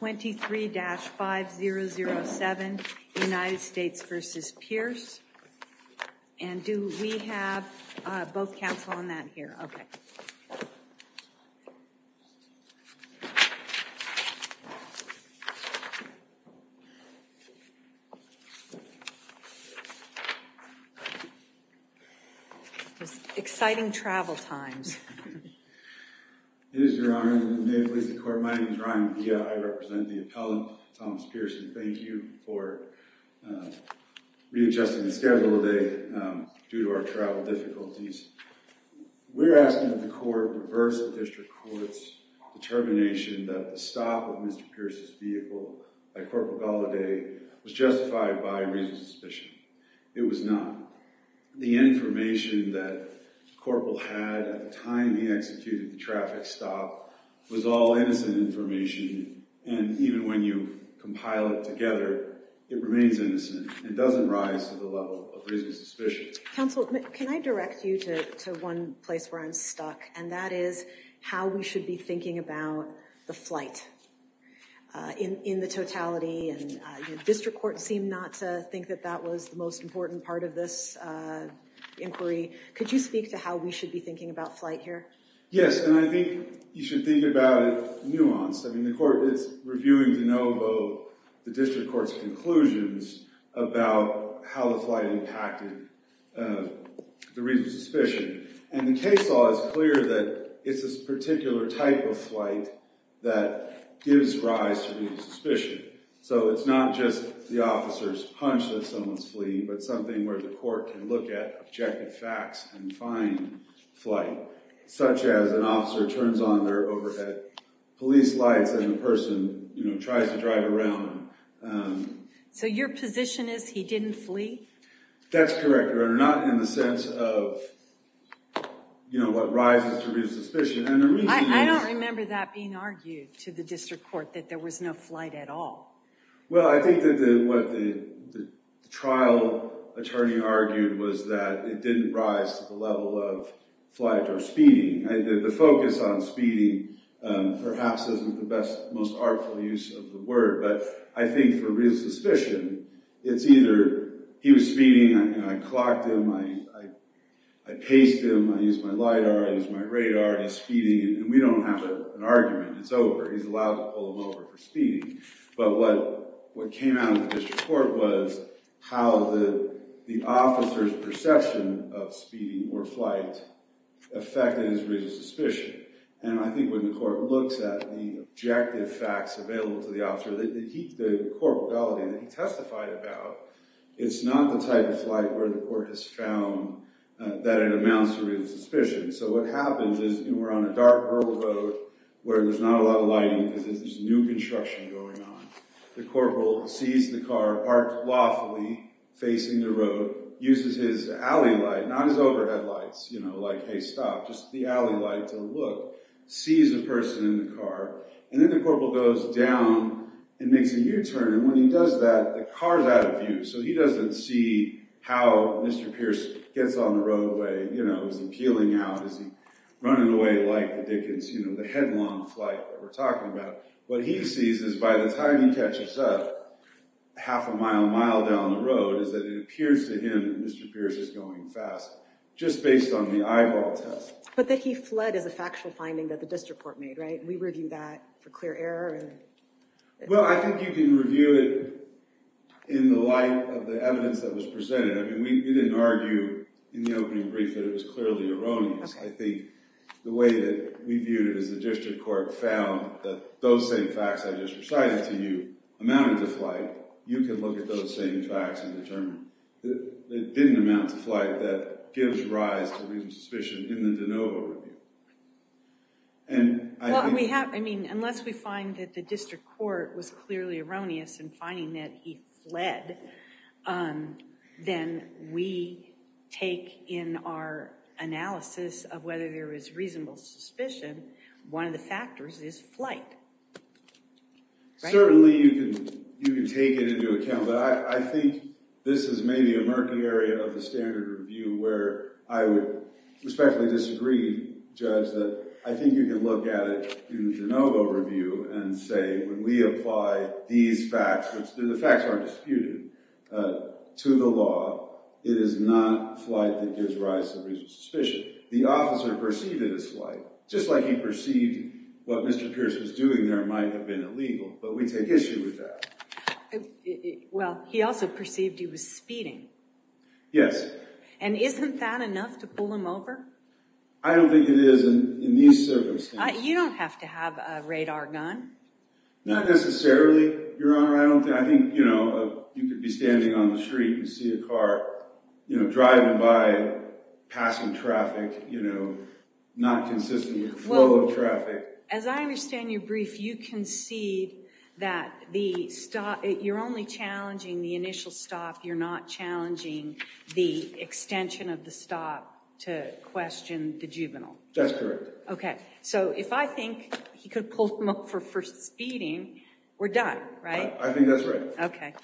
23-5007 United States v. Pearce, and do we have both counsel on that here? Okay, exciting travel times. It is your honor, and may it please the court, my name is Ryan Villa, I represent the appellant, Thomas Pearce, and thank you for readjusting the schedule today due to our travel difficulties. We're asking that the court reverse the district court's determination that the stop of Mr. Pearce's vehicle by Corporal Gallaudet was justified by reason of suspicion. It was not. The information that Corporal had at the time he executed the traffic stop was all innocent information, and even when you compile it together, it remains innocent. It doesn't rise to the level of reason of suspicion. Counsel, can I direct you to one place where I'm stuck, and that is how we should be thinking about the flight in the totality, and district court seemed not to think that that was the most important part of this inquiry. Could you speak to how we should be thinking about flight here? Yes, and I think you should think about it nuanced. I mean, the court is reviewing the district court's conclusions about how the flight impacted the reason of suspicion, and the case law is clear that it's this particular type of flight that gives rise to reason of suspicion, so it's not just the officer's hunch that someone's fleeing, but something where the court can look at objective facts and find flight, such as an officer turns on their overhead police lights, and the person, you know, tries to drive around. So your position is he didn't flee? That's correct, Your Honor, not in the sense of, you know, what rises to reason of suspicion, and the reason is... I don't remember that being argued to the district court, that there was no flight at all. Well, I think that what the trial attorney argued was that it didn't rise to the level of flight or speeding. The focus on speeding perhaps isn't the best, most artful use of the word, but I think for reason of suspicion, it's either he was speeding, I clocked him, I paced him, I used my LIDAR, I used my radar, he's speeding, and we don't have an argument, it's over, he's allowed to pull him over for speeding. But what came out of the district court was how the officer's perception of speeding or flight affected his reason of suspicion, and I think when the court looks at the objective facts available to the officer, the corporeality that he testified about, it's not the type of flight where the court has found that it amounts to reason of suspicion. So what happens is, we're on a dark rural road where there's not a lot of lighting because there's new construction going on. The corporal sees the car parked lawfully facing the road, uses his alley light, not his overhead lights, you know, like, hey, stop, just the alley light to look, sees a person in the car, and then the corporal goes down and makes a U-turn, and when he does that, the car's out of view, so he doesn't see how Mr. Pierce gets on the roadway, you know, is he peeling out? Is he running away like the Dickens, you know, the headlong flight that we're talking about? What he sees is by the time he catches up, half a mile, mile down the road, is that it appears to him that Mr. Pierce is going fast, just based on the eyeball test. But that he fled is a factual finding that the district court made, right? We review that for clear error? Well, I think you can review it in the light of the evidence that was presented. I mean, we didn't argue in the opening brief that it was clearly erroneous. I think the way that we viewed it is the district court found that those same facts I just recited to you amounted to flight. You can look at those same facts and determine that it didn't amount to flight that gives rise to suspicion in the DeNovo review. Well, I mean, unless we find that the district court was clearly erroneous in finding that he fled, then we take in our analysis of whether there is reasonable suspicion, one of the factors is flight, right? I think you can look at it in the DeNovo review and say when we apply these facts, which the facts aren't disputed, to the law, it is not flight that gives rise to reasonable suspicion. The officer perceived it as flight, just like he perceived what Mr. Pierce was doing there might have been illegal, but we take issue with that. Well, he also perceived he was speeding. Yes. And isn't that enough to pull him over? I don't think it is in these circumstances. You don't have to have a radar gun. Not necessarily, Your Honor. I think you could be standing on the street and see a car driving by, passing traffic, not consistent with the flow of traffic. As I understand your brief, you concede that you're only challenging the initial stop, you're not challenging the extension of the stop to question the juvenile. That's correct. Okay, so if I think he could have pulled him over for speeding, we're done, right? I think that's right. Okay.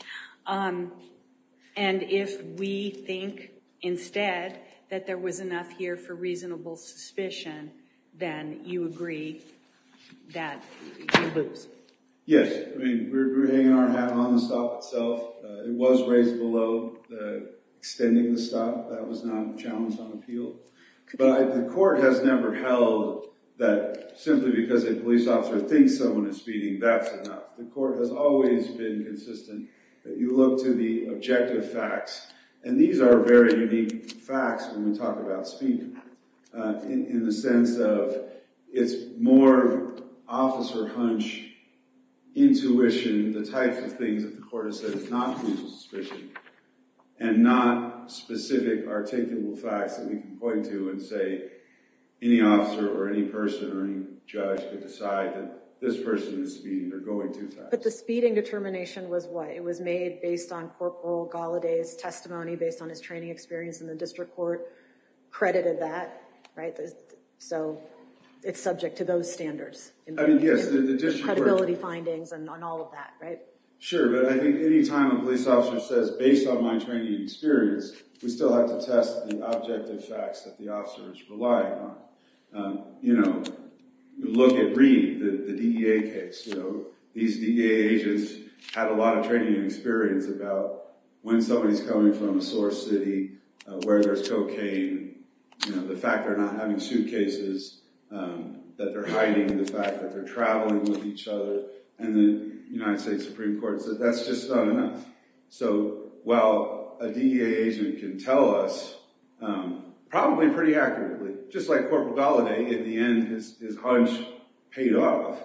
And if we think instead that there was enough here for reasonable suspicion, then you agree that you lose? Yes. I mean, we're hanging our hat on the stop itself. It was raised below extending the stop. That was not challenged on appeal. But the court has never held that simply because a police officer thinks someone is speeding, that's enough. The court has always been consistent that you look to the objective facts, and these are very unique facts when we talk about speeding, in the sense of it's more officer hunch, intuition, the types of things that the court has said is not reasonable suspicion, and not specific, articulable facts that we can point to and say any officer or any person or any judge could decide that this person is speeding or going too fast. But the speeding determination was what? It was made based on Corporal Galladay's testimony, based on his training experience in the district court, credited that, right? So it's subject to those standards. I mean, yes. Credibility findings and all of that, right? Sure. But I think any time a police officer says, based on my training and experience, we still have to test the objective facts that the officer is relying on. You know, look at Reed, the DEA case. These DEA agents had a lot of training and experience about when somebody's coming from a source city, where there's cocaine, the fact they're not having suitcases, that they're hiding, the fact that they're traveling with each other, and the United States Supreme Court. That's just not enough. So while a DEA agent can tell us, probably pretty accurately, just like Corporal Galladay, in the end, his hunch paid off,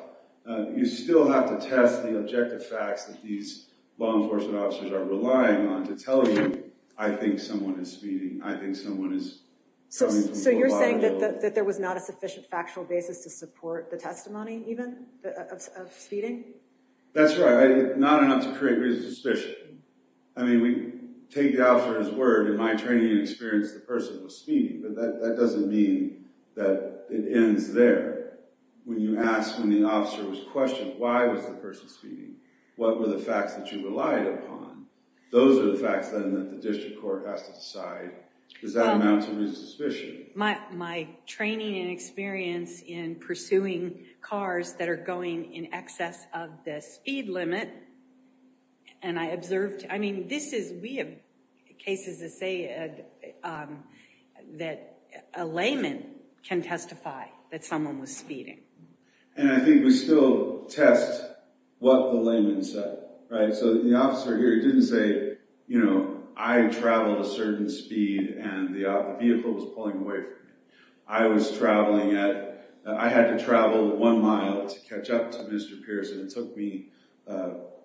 you still have to test the objective facts that these law enforcement officers are relying on to tell you, I think someone is speeding. I think someone is coming from a large area. So you're saying that there was not a sufficient factual basis to support the testimony, even, of speeding? That's right. Not enough to create suspicion. I mean, we take the officer's word. In my training and experience, the person was speeding. But that doesn't mean that it ends there. When you ask, when the officer was questioned, why was the person speeding? What were the facts that you relied upon? Those are the facts, then, that the district court has to decide. Does that amount to resuspicion? My training and experience in pursuing cars that are going in excess of the speed limit, and I observed— I mean, we have cases that say that a layman can testify that someone was speeding. And I think we still test what the layman said, right? So the officer here didn't say, you know, I traveled a certain speed and the vehicle was pulling away from me. I was traveling at—I had to travel one mile to catch up to Mr. Pierce, and it took me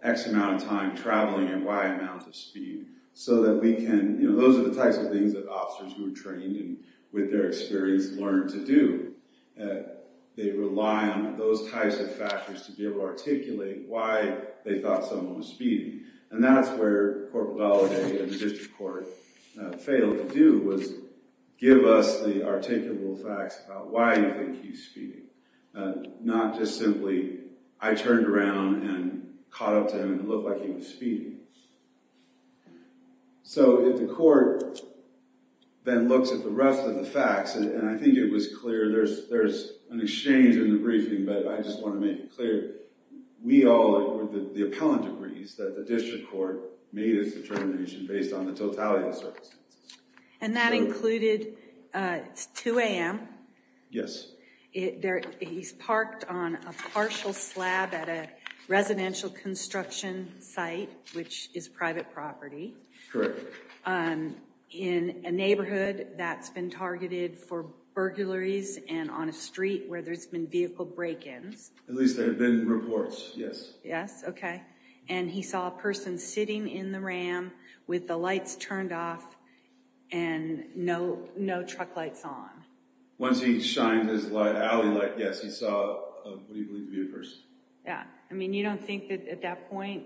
X amount of time traveling and Y amount of speed. So that we can—you know, those are the types of things that officers who are trained and with their experience learn to do. They rely on those types of factors to be able to articulate why they thought someone was speeding. And that's where Cpl. Valadie and the district court failed to do, was give us the articulable facts about why you think he's speeding. Not just simply, I turned around and caught up to him and it looked like he was speeding. So if the court then looks at the rest of the facts, and I think it was clear, there's an exchange in the briefing, but I just want to make it clear. We all—the appellant agrees that the district court made its determination based on the totality of the circumstances. And that included—it's 2 a.m. Yes. He's parked on a partial slab at a residential construction site, which is private property. Correct. In a neighborhood that's been targeted for burglaries and on a street where there's been vehicle break-ins. At least there have been reports, yes. Yes, okay. And he saw a person sitting in the ram with the lights turned off and no truck lights on. Once he shined his alley light, yes, he saw what he believed to be a person. Yeah. I mean, you don't think that at that point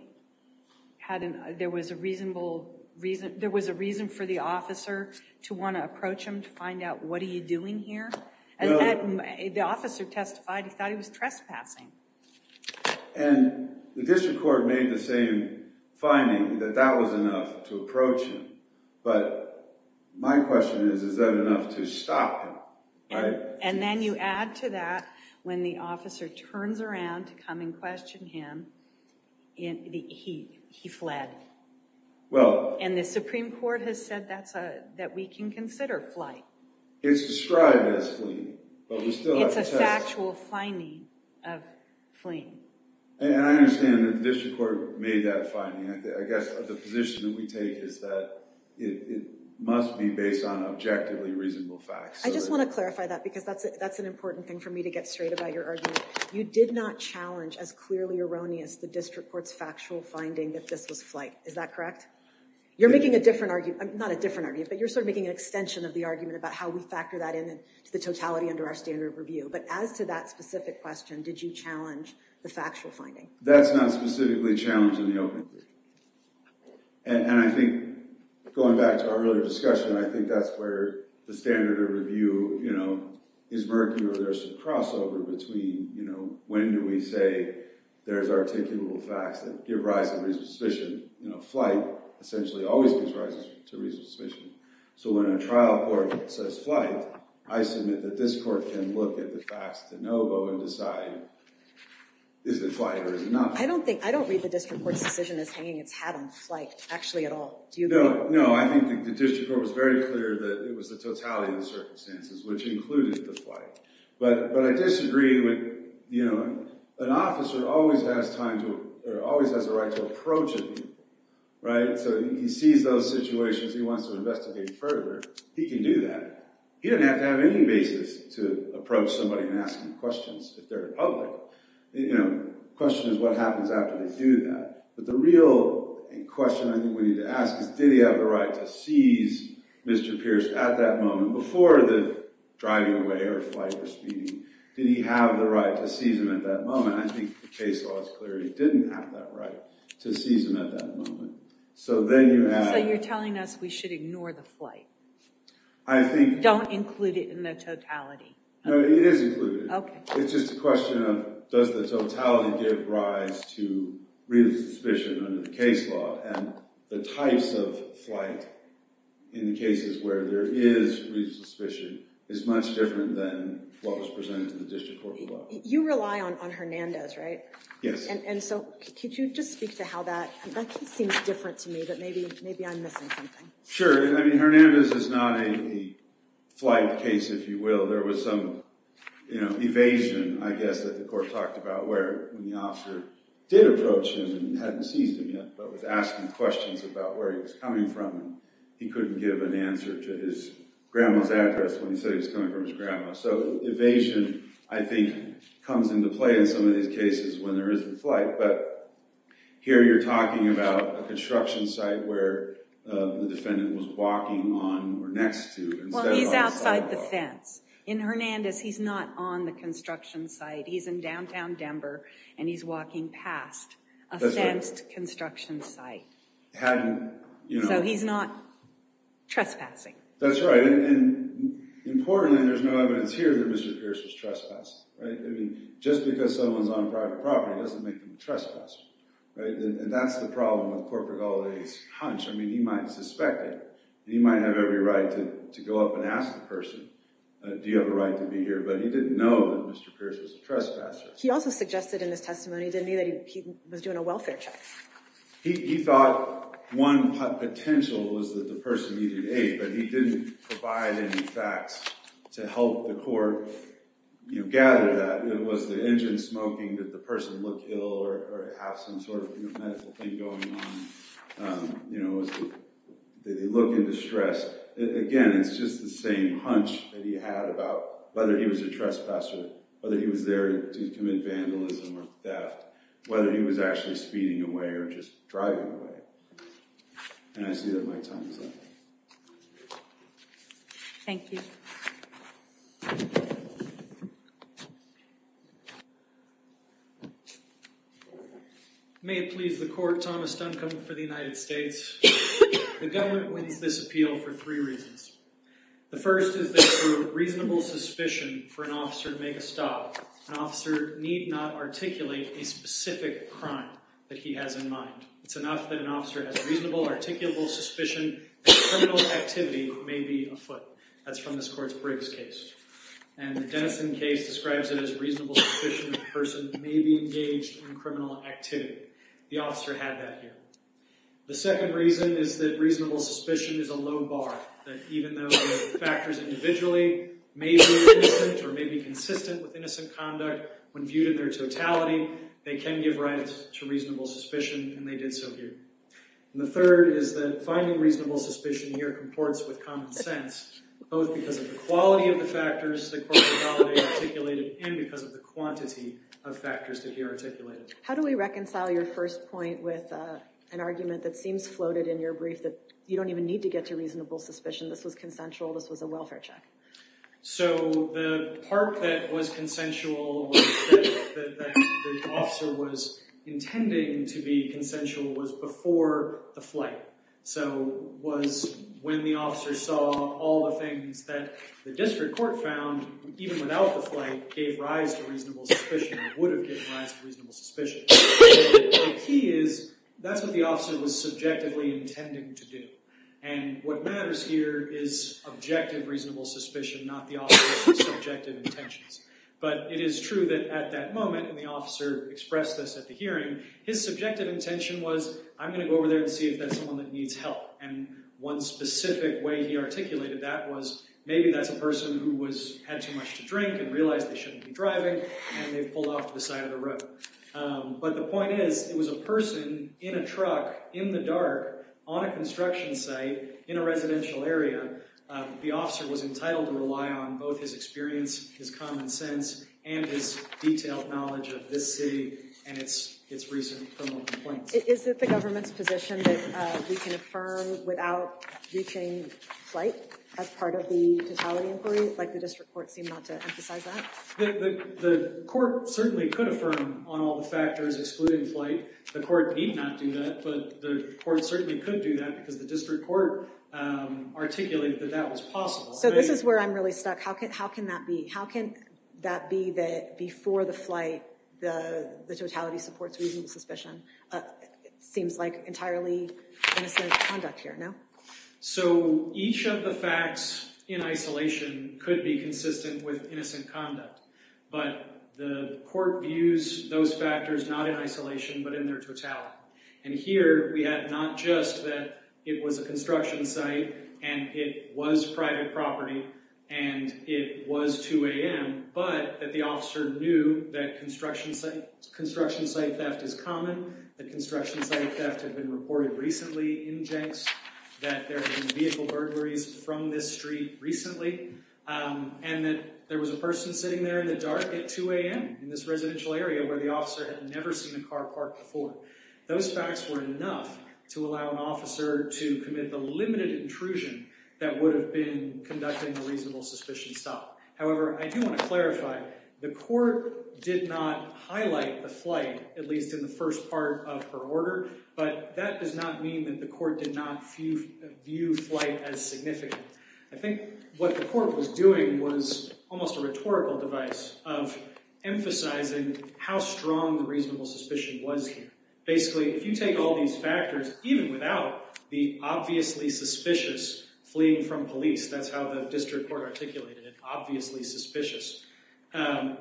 there was a reasonable—there was a reason for the officer to want to approach him to find out, what are you doing here? The officer testified he thought he was trespassing. And the district court made the same finding, that that was enough to approach him. But my question is, is that enough to stop him, right? And then you add to that, when the officer turns around to come and question him, he fled. Well— And the Supreme Court has said that we can consider flight. It's described as fleeing, but we still have to test— It's a factual finding of fleeing. And I understand that the district court made that finding. I guess the position that we take is that it must be based on objectively reasonable facts. I just want to clarify that because that's an important thing for me to get straight about your argument. You did not challenge, as clearly erroneous, the district court's factual finding that this was flight. Is that correct? You're making a different argument—not a different argument, but you're sort of making an extension of the argument about how we factor that into the totality under our standard of review. But as to that specific question, did you challenge the factual finding? That's not specifically challenged in the open. And I think, going back to our earlier discussion, I think that's where the standard of review, you know, is murky. There's a crossover between, you know, when do we say there's articulable facts that give rise to reasonable suspicion? You know, flight essentially always gives rise to reasonable suspicion. So when a trial court says flight, I submit that this court can look at the facts de novo and decide, is it flight or is it not? I don't think—I don't read the district court's decision as hanging its hat on flight, actually, at all. Do you? No, no. I think the district court was very clear that it was the totality of the circumstances, which included the flight. But I disagree with, you know, an officer always has time to—or always has the right to approach an individual, right? So he sees those situations, he wants to investigate further. He can do that. He doesn't have to have any basis to approach somebody and ask them questions if they're in public. You know, the question is what happens after they do that. But the real question I think we need to ask is, did he have the right to seize Mr. Pierce at that moment, before the driving away or flight or speeding? Did he have the right to seize him at that moment? I think the case law is clear he didn't have that right to seize him at that moment. So then you add— So you're telling us we should ignore the flight? I think— Don't include it in the totality. No, it is included. Okay. It's just a question of does the totality give rise to real suspicion under the case law? And the types of flight in the cases where there is real suspicion is much different than what was presented in the district court law. You rely on Hernandez, right? Yes. And so could you just speak to how that—that seems different to me, but maybe I'm missing something. Sure. I mean, Hernandez is not a flight case, if you will. There was some evasion, I guess, that the court talked about where the officer did approach him and hadn't seized him yet, but was asking questions about where he was coming from. He couldn't give an answer to his grandma's address when he said he was coming from his grandma. So evasion, I think, comes into play in some of these cases when there is the flight. But here you're talking about a construction site where the defendant was walking on or next to. Well, he's outside the fence. In Hernandez, he's not on the construction site. He's in downtown Denver, and he's walking past a fenced construction site. Hadn't, you know— So he's not trespassing. That's right. And importantly, there's no evidence here that Mr. Pierce was trespassed, right? I mean, just because someone's on private property doesn't make them a trespasser, right? And that's the problem with Corporate Holiday's hunch. I mean, he might suspect it. He might have every right to go up and ask the person, do you have a right to be here? But he didn't know that Mr. Pierce was a trespasser. He also suggested in his testimony, didn't he, that he was doing a welfare check. He thought one potential was that the person needed aid, but he didn't provide any facts to help the court gather that. And was the engine smoking? Did the person look ill or have some sort of medical thing going on? You know, did he look in distress? Again, it's just the same hunch that he had about whether he was a trespasser, whether he was there to commit vandalism or theft, whether he was actually speeding away or just driving away. And I see that my time is up. Thank you. May it please the court, Thomas Duncombe for the United States. The government wins this appeal for three reasons. The first is there's a reasonable suspicion for an officer to make a stop. An officer need not articulate a specific crime that he has in mind. It's enough that an officer has reasonable, articulable suspicion that criminal activity may be afoot. That's from this court's previous case. And the Denison case describes it as reasonable suspicion that a person may be engaged in criminal activity. The officer had that here. The second reason is that reasonable suspicion is a low bar. That even though the factors individually may be innocent or may be consistent with innocent conduct, when viewed in their totality, they can give rise to reasonable suspicion. And they did so here. And the third is that finding reasonable suspicion here comports with common sense, both because of the quality of the factors the court had articulated and because of the quantity of factors that he articulated. How do we reconcile your first point with an argument that seems floated in your brief that you don't even need to get to reasonable suspicion, this was consensual, this was a welfare check? So the part that was consensual, that the officer was intending to be consensual, was before the flight. So it was when the officer saw all the things that the district court found, even without the flight, gave rise to reasonable suspicion or would have given rise to reasonable suspicion. The key is that's what the officer was subjectively intending to do. And what matters here is objective reasonable suspicion, not the officer's subjective intentions. But it is true that at that moment, and the officer expressed this at the hearing, his subjective intention was, I'm going to go over there and see if that's someone that needs help. And one specific way he articulated that was, maybe that's a person who had too much to drink and realized they shouldn't be driving, and they pulled off to the side of the road. But the point is, it was a person in a truck, in the dark, on a construction site, in a residential area. The officer was entitled to rely on both his experience, his common sense, and his detailed knowledge of this city and its recent criminal complaints. Is it the government's position that we can affirm without reaching flight as part of the totality inquiry, like the district court seemed not to emphasize that? The court certainly could affirm on all the factors excluding flight. The court need not do that, but the court certainly could do that, because the district court articulated that that was possible. So this is where I'm really stuck. How can that be? How can that be that before the flight, the totality supports reasonable suspicion? Seems like entirely innocent conduct here, no? So each of the facts in isolation could be consistent with innocent conduct, but the court views those factors not in isolation, but in their totality. And here, we have not just that it was a construction site, and it was private property, and it was 2 a.m., but that the officer knew that construction site theft is common, that construction site theft had been reported recently in Jenks, that there had been vehicle burglaries from this street recently, and that there was a person sitting there in the dark at 2 a.m. in this residential area where the officer had never seen a car parked before. Those facts were enough to allow an officer to commit the limited intrusion that would have been conducting a reasonable suspicion stop. However, I do want to clarify, the court did not highlight the flight, at least in the first part of her order, but that does not mean that the court did not view flight as significant. I think what the court was doing was almost a rhetorical device of emphasizing how strong the reasonable suspicion was here. Basically, if you take all these factors, even without the obviously suspicious fleeing from police, that's how the district court articulated it, obviously suspicious,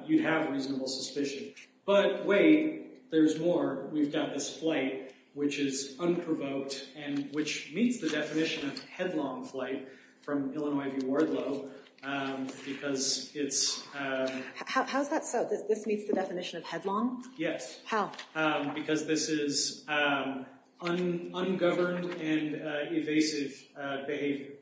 you'd have reasonable suspicion. But wait, there's more. We've got this flight which is unprovoked and which meets the definition of headlong flight from Illinois v. Wardlow because it's— How is that so? This meets the definition of headlong? Yes. How? Because this is ungoverned and evasive behavior.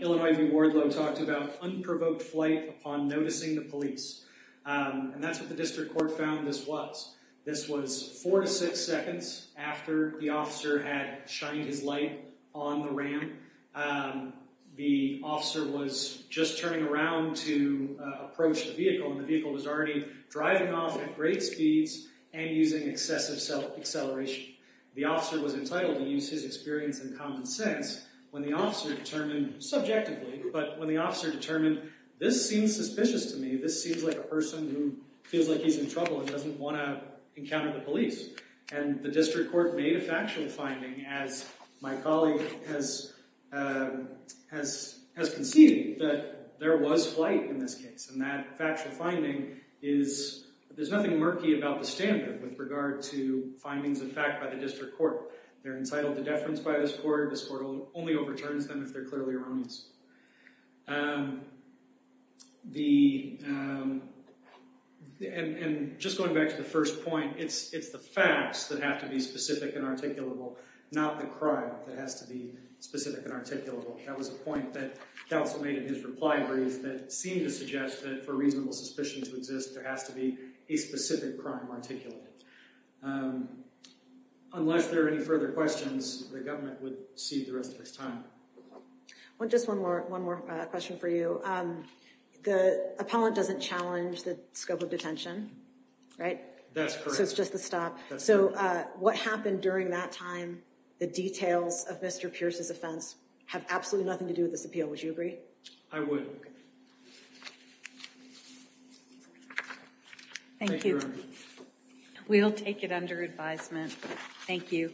Illinois v. Wardlow talked about unprovoked flight upon noticing the police, and that's what the district court found this was. This was four to six seconds after the officer had shined his light on the ram. The officer was just turning around to approach the vehicle, and the vehicle was already driving off at great speeds and using excessive acceleration. The officer was entitled to use his experience and common sense when the officer determined subjectively, but when the officer determined, this seems suspicious to me, this seems like a person who feels like he's in trouble and doesn't want to encounter the police. And the district court made a factual finding, as my colleague has conceded, that there was flight in this case. And that factual finding is— There's nothing murky about the standard with regard to findings of fact by the district court. They're entitled to deference by this court. This court only overturns them if they're clearly wrongs. And just going back to the first point, it's the facts that have to be specific and articulable, not the crime that has to be specific and articulable. That was a point that counsel made in his reply brief that seemed to suggest that for reasonable suspicion to exist, there has to be a specific crime articulated. Unless there are any further questions, the government would cede the rest of its time. Just one more question for you. The appellant doesn't challenge the scope of detention, right? That's correct. So it's just the stop. So what happened during that time, the details of Mr. Pierce's offense, have absolutely nothing to do with this appeal. Would you agree? I would. Thank you. We'll take it under advisement. Thank you.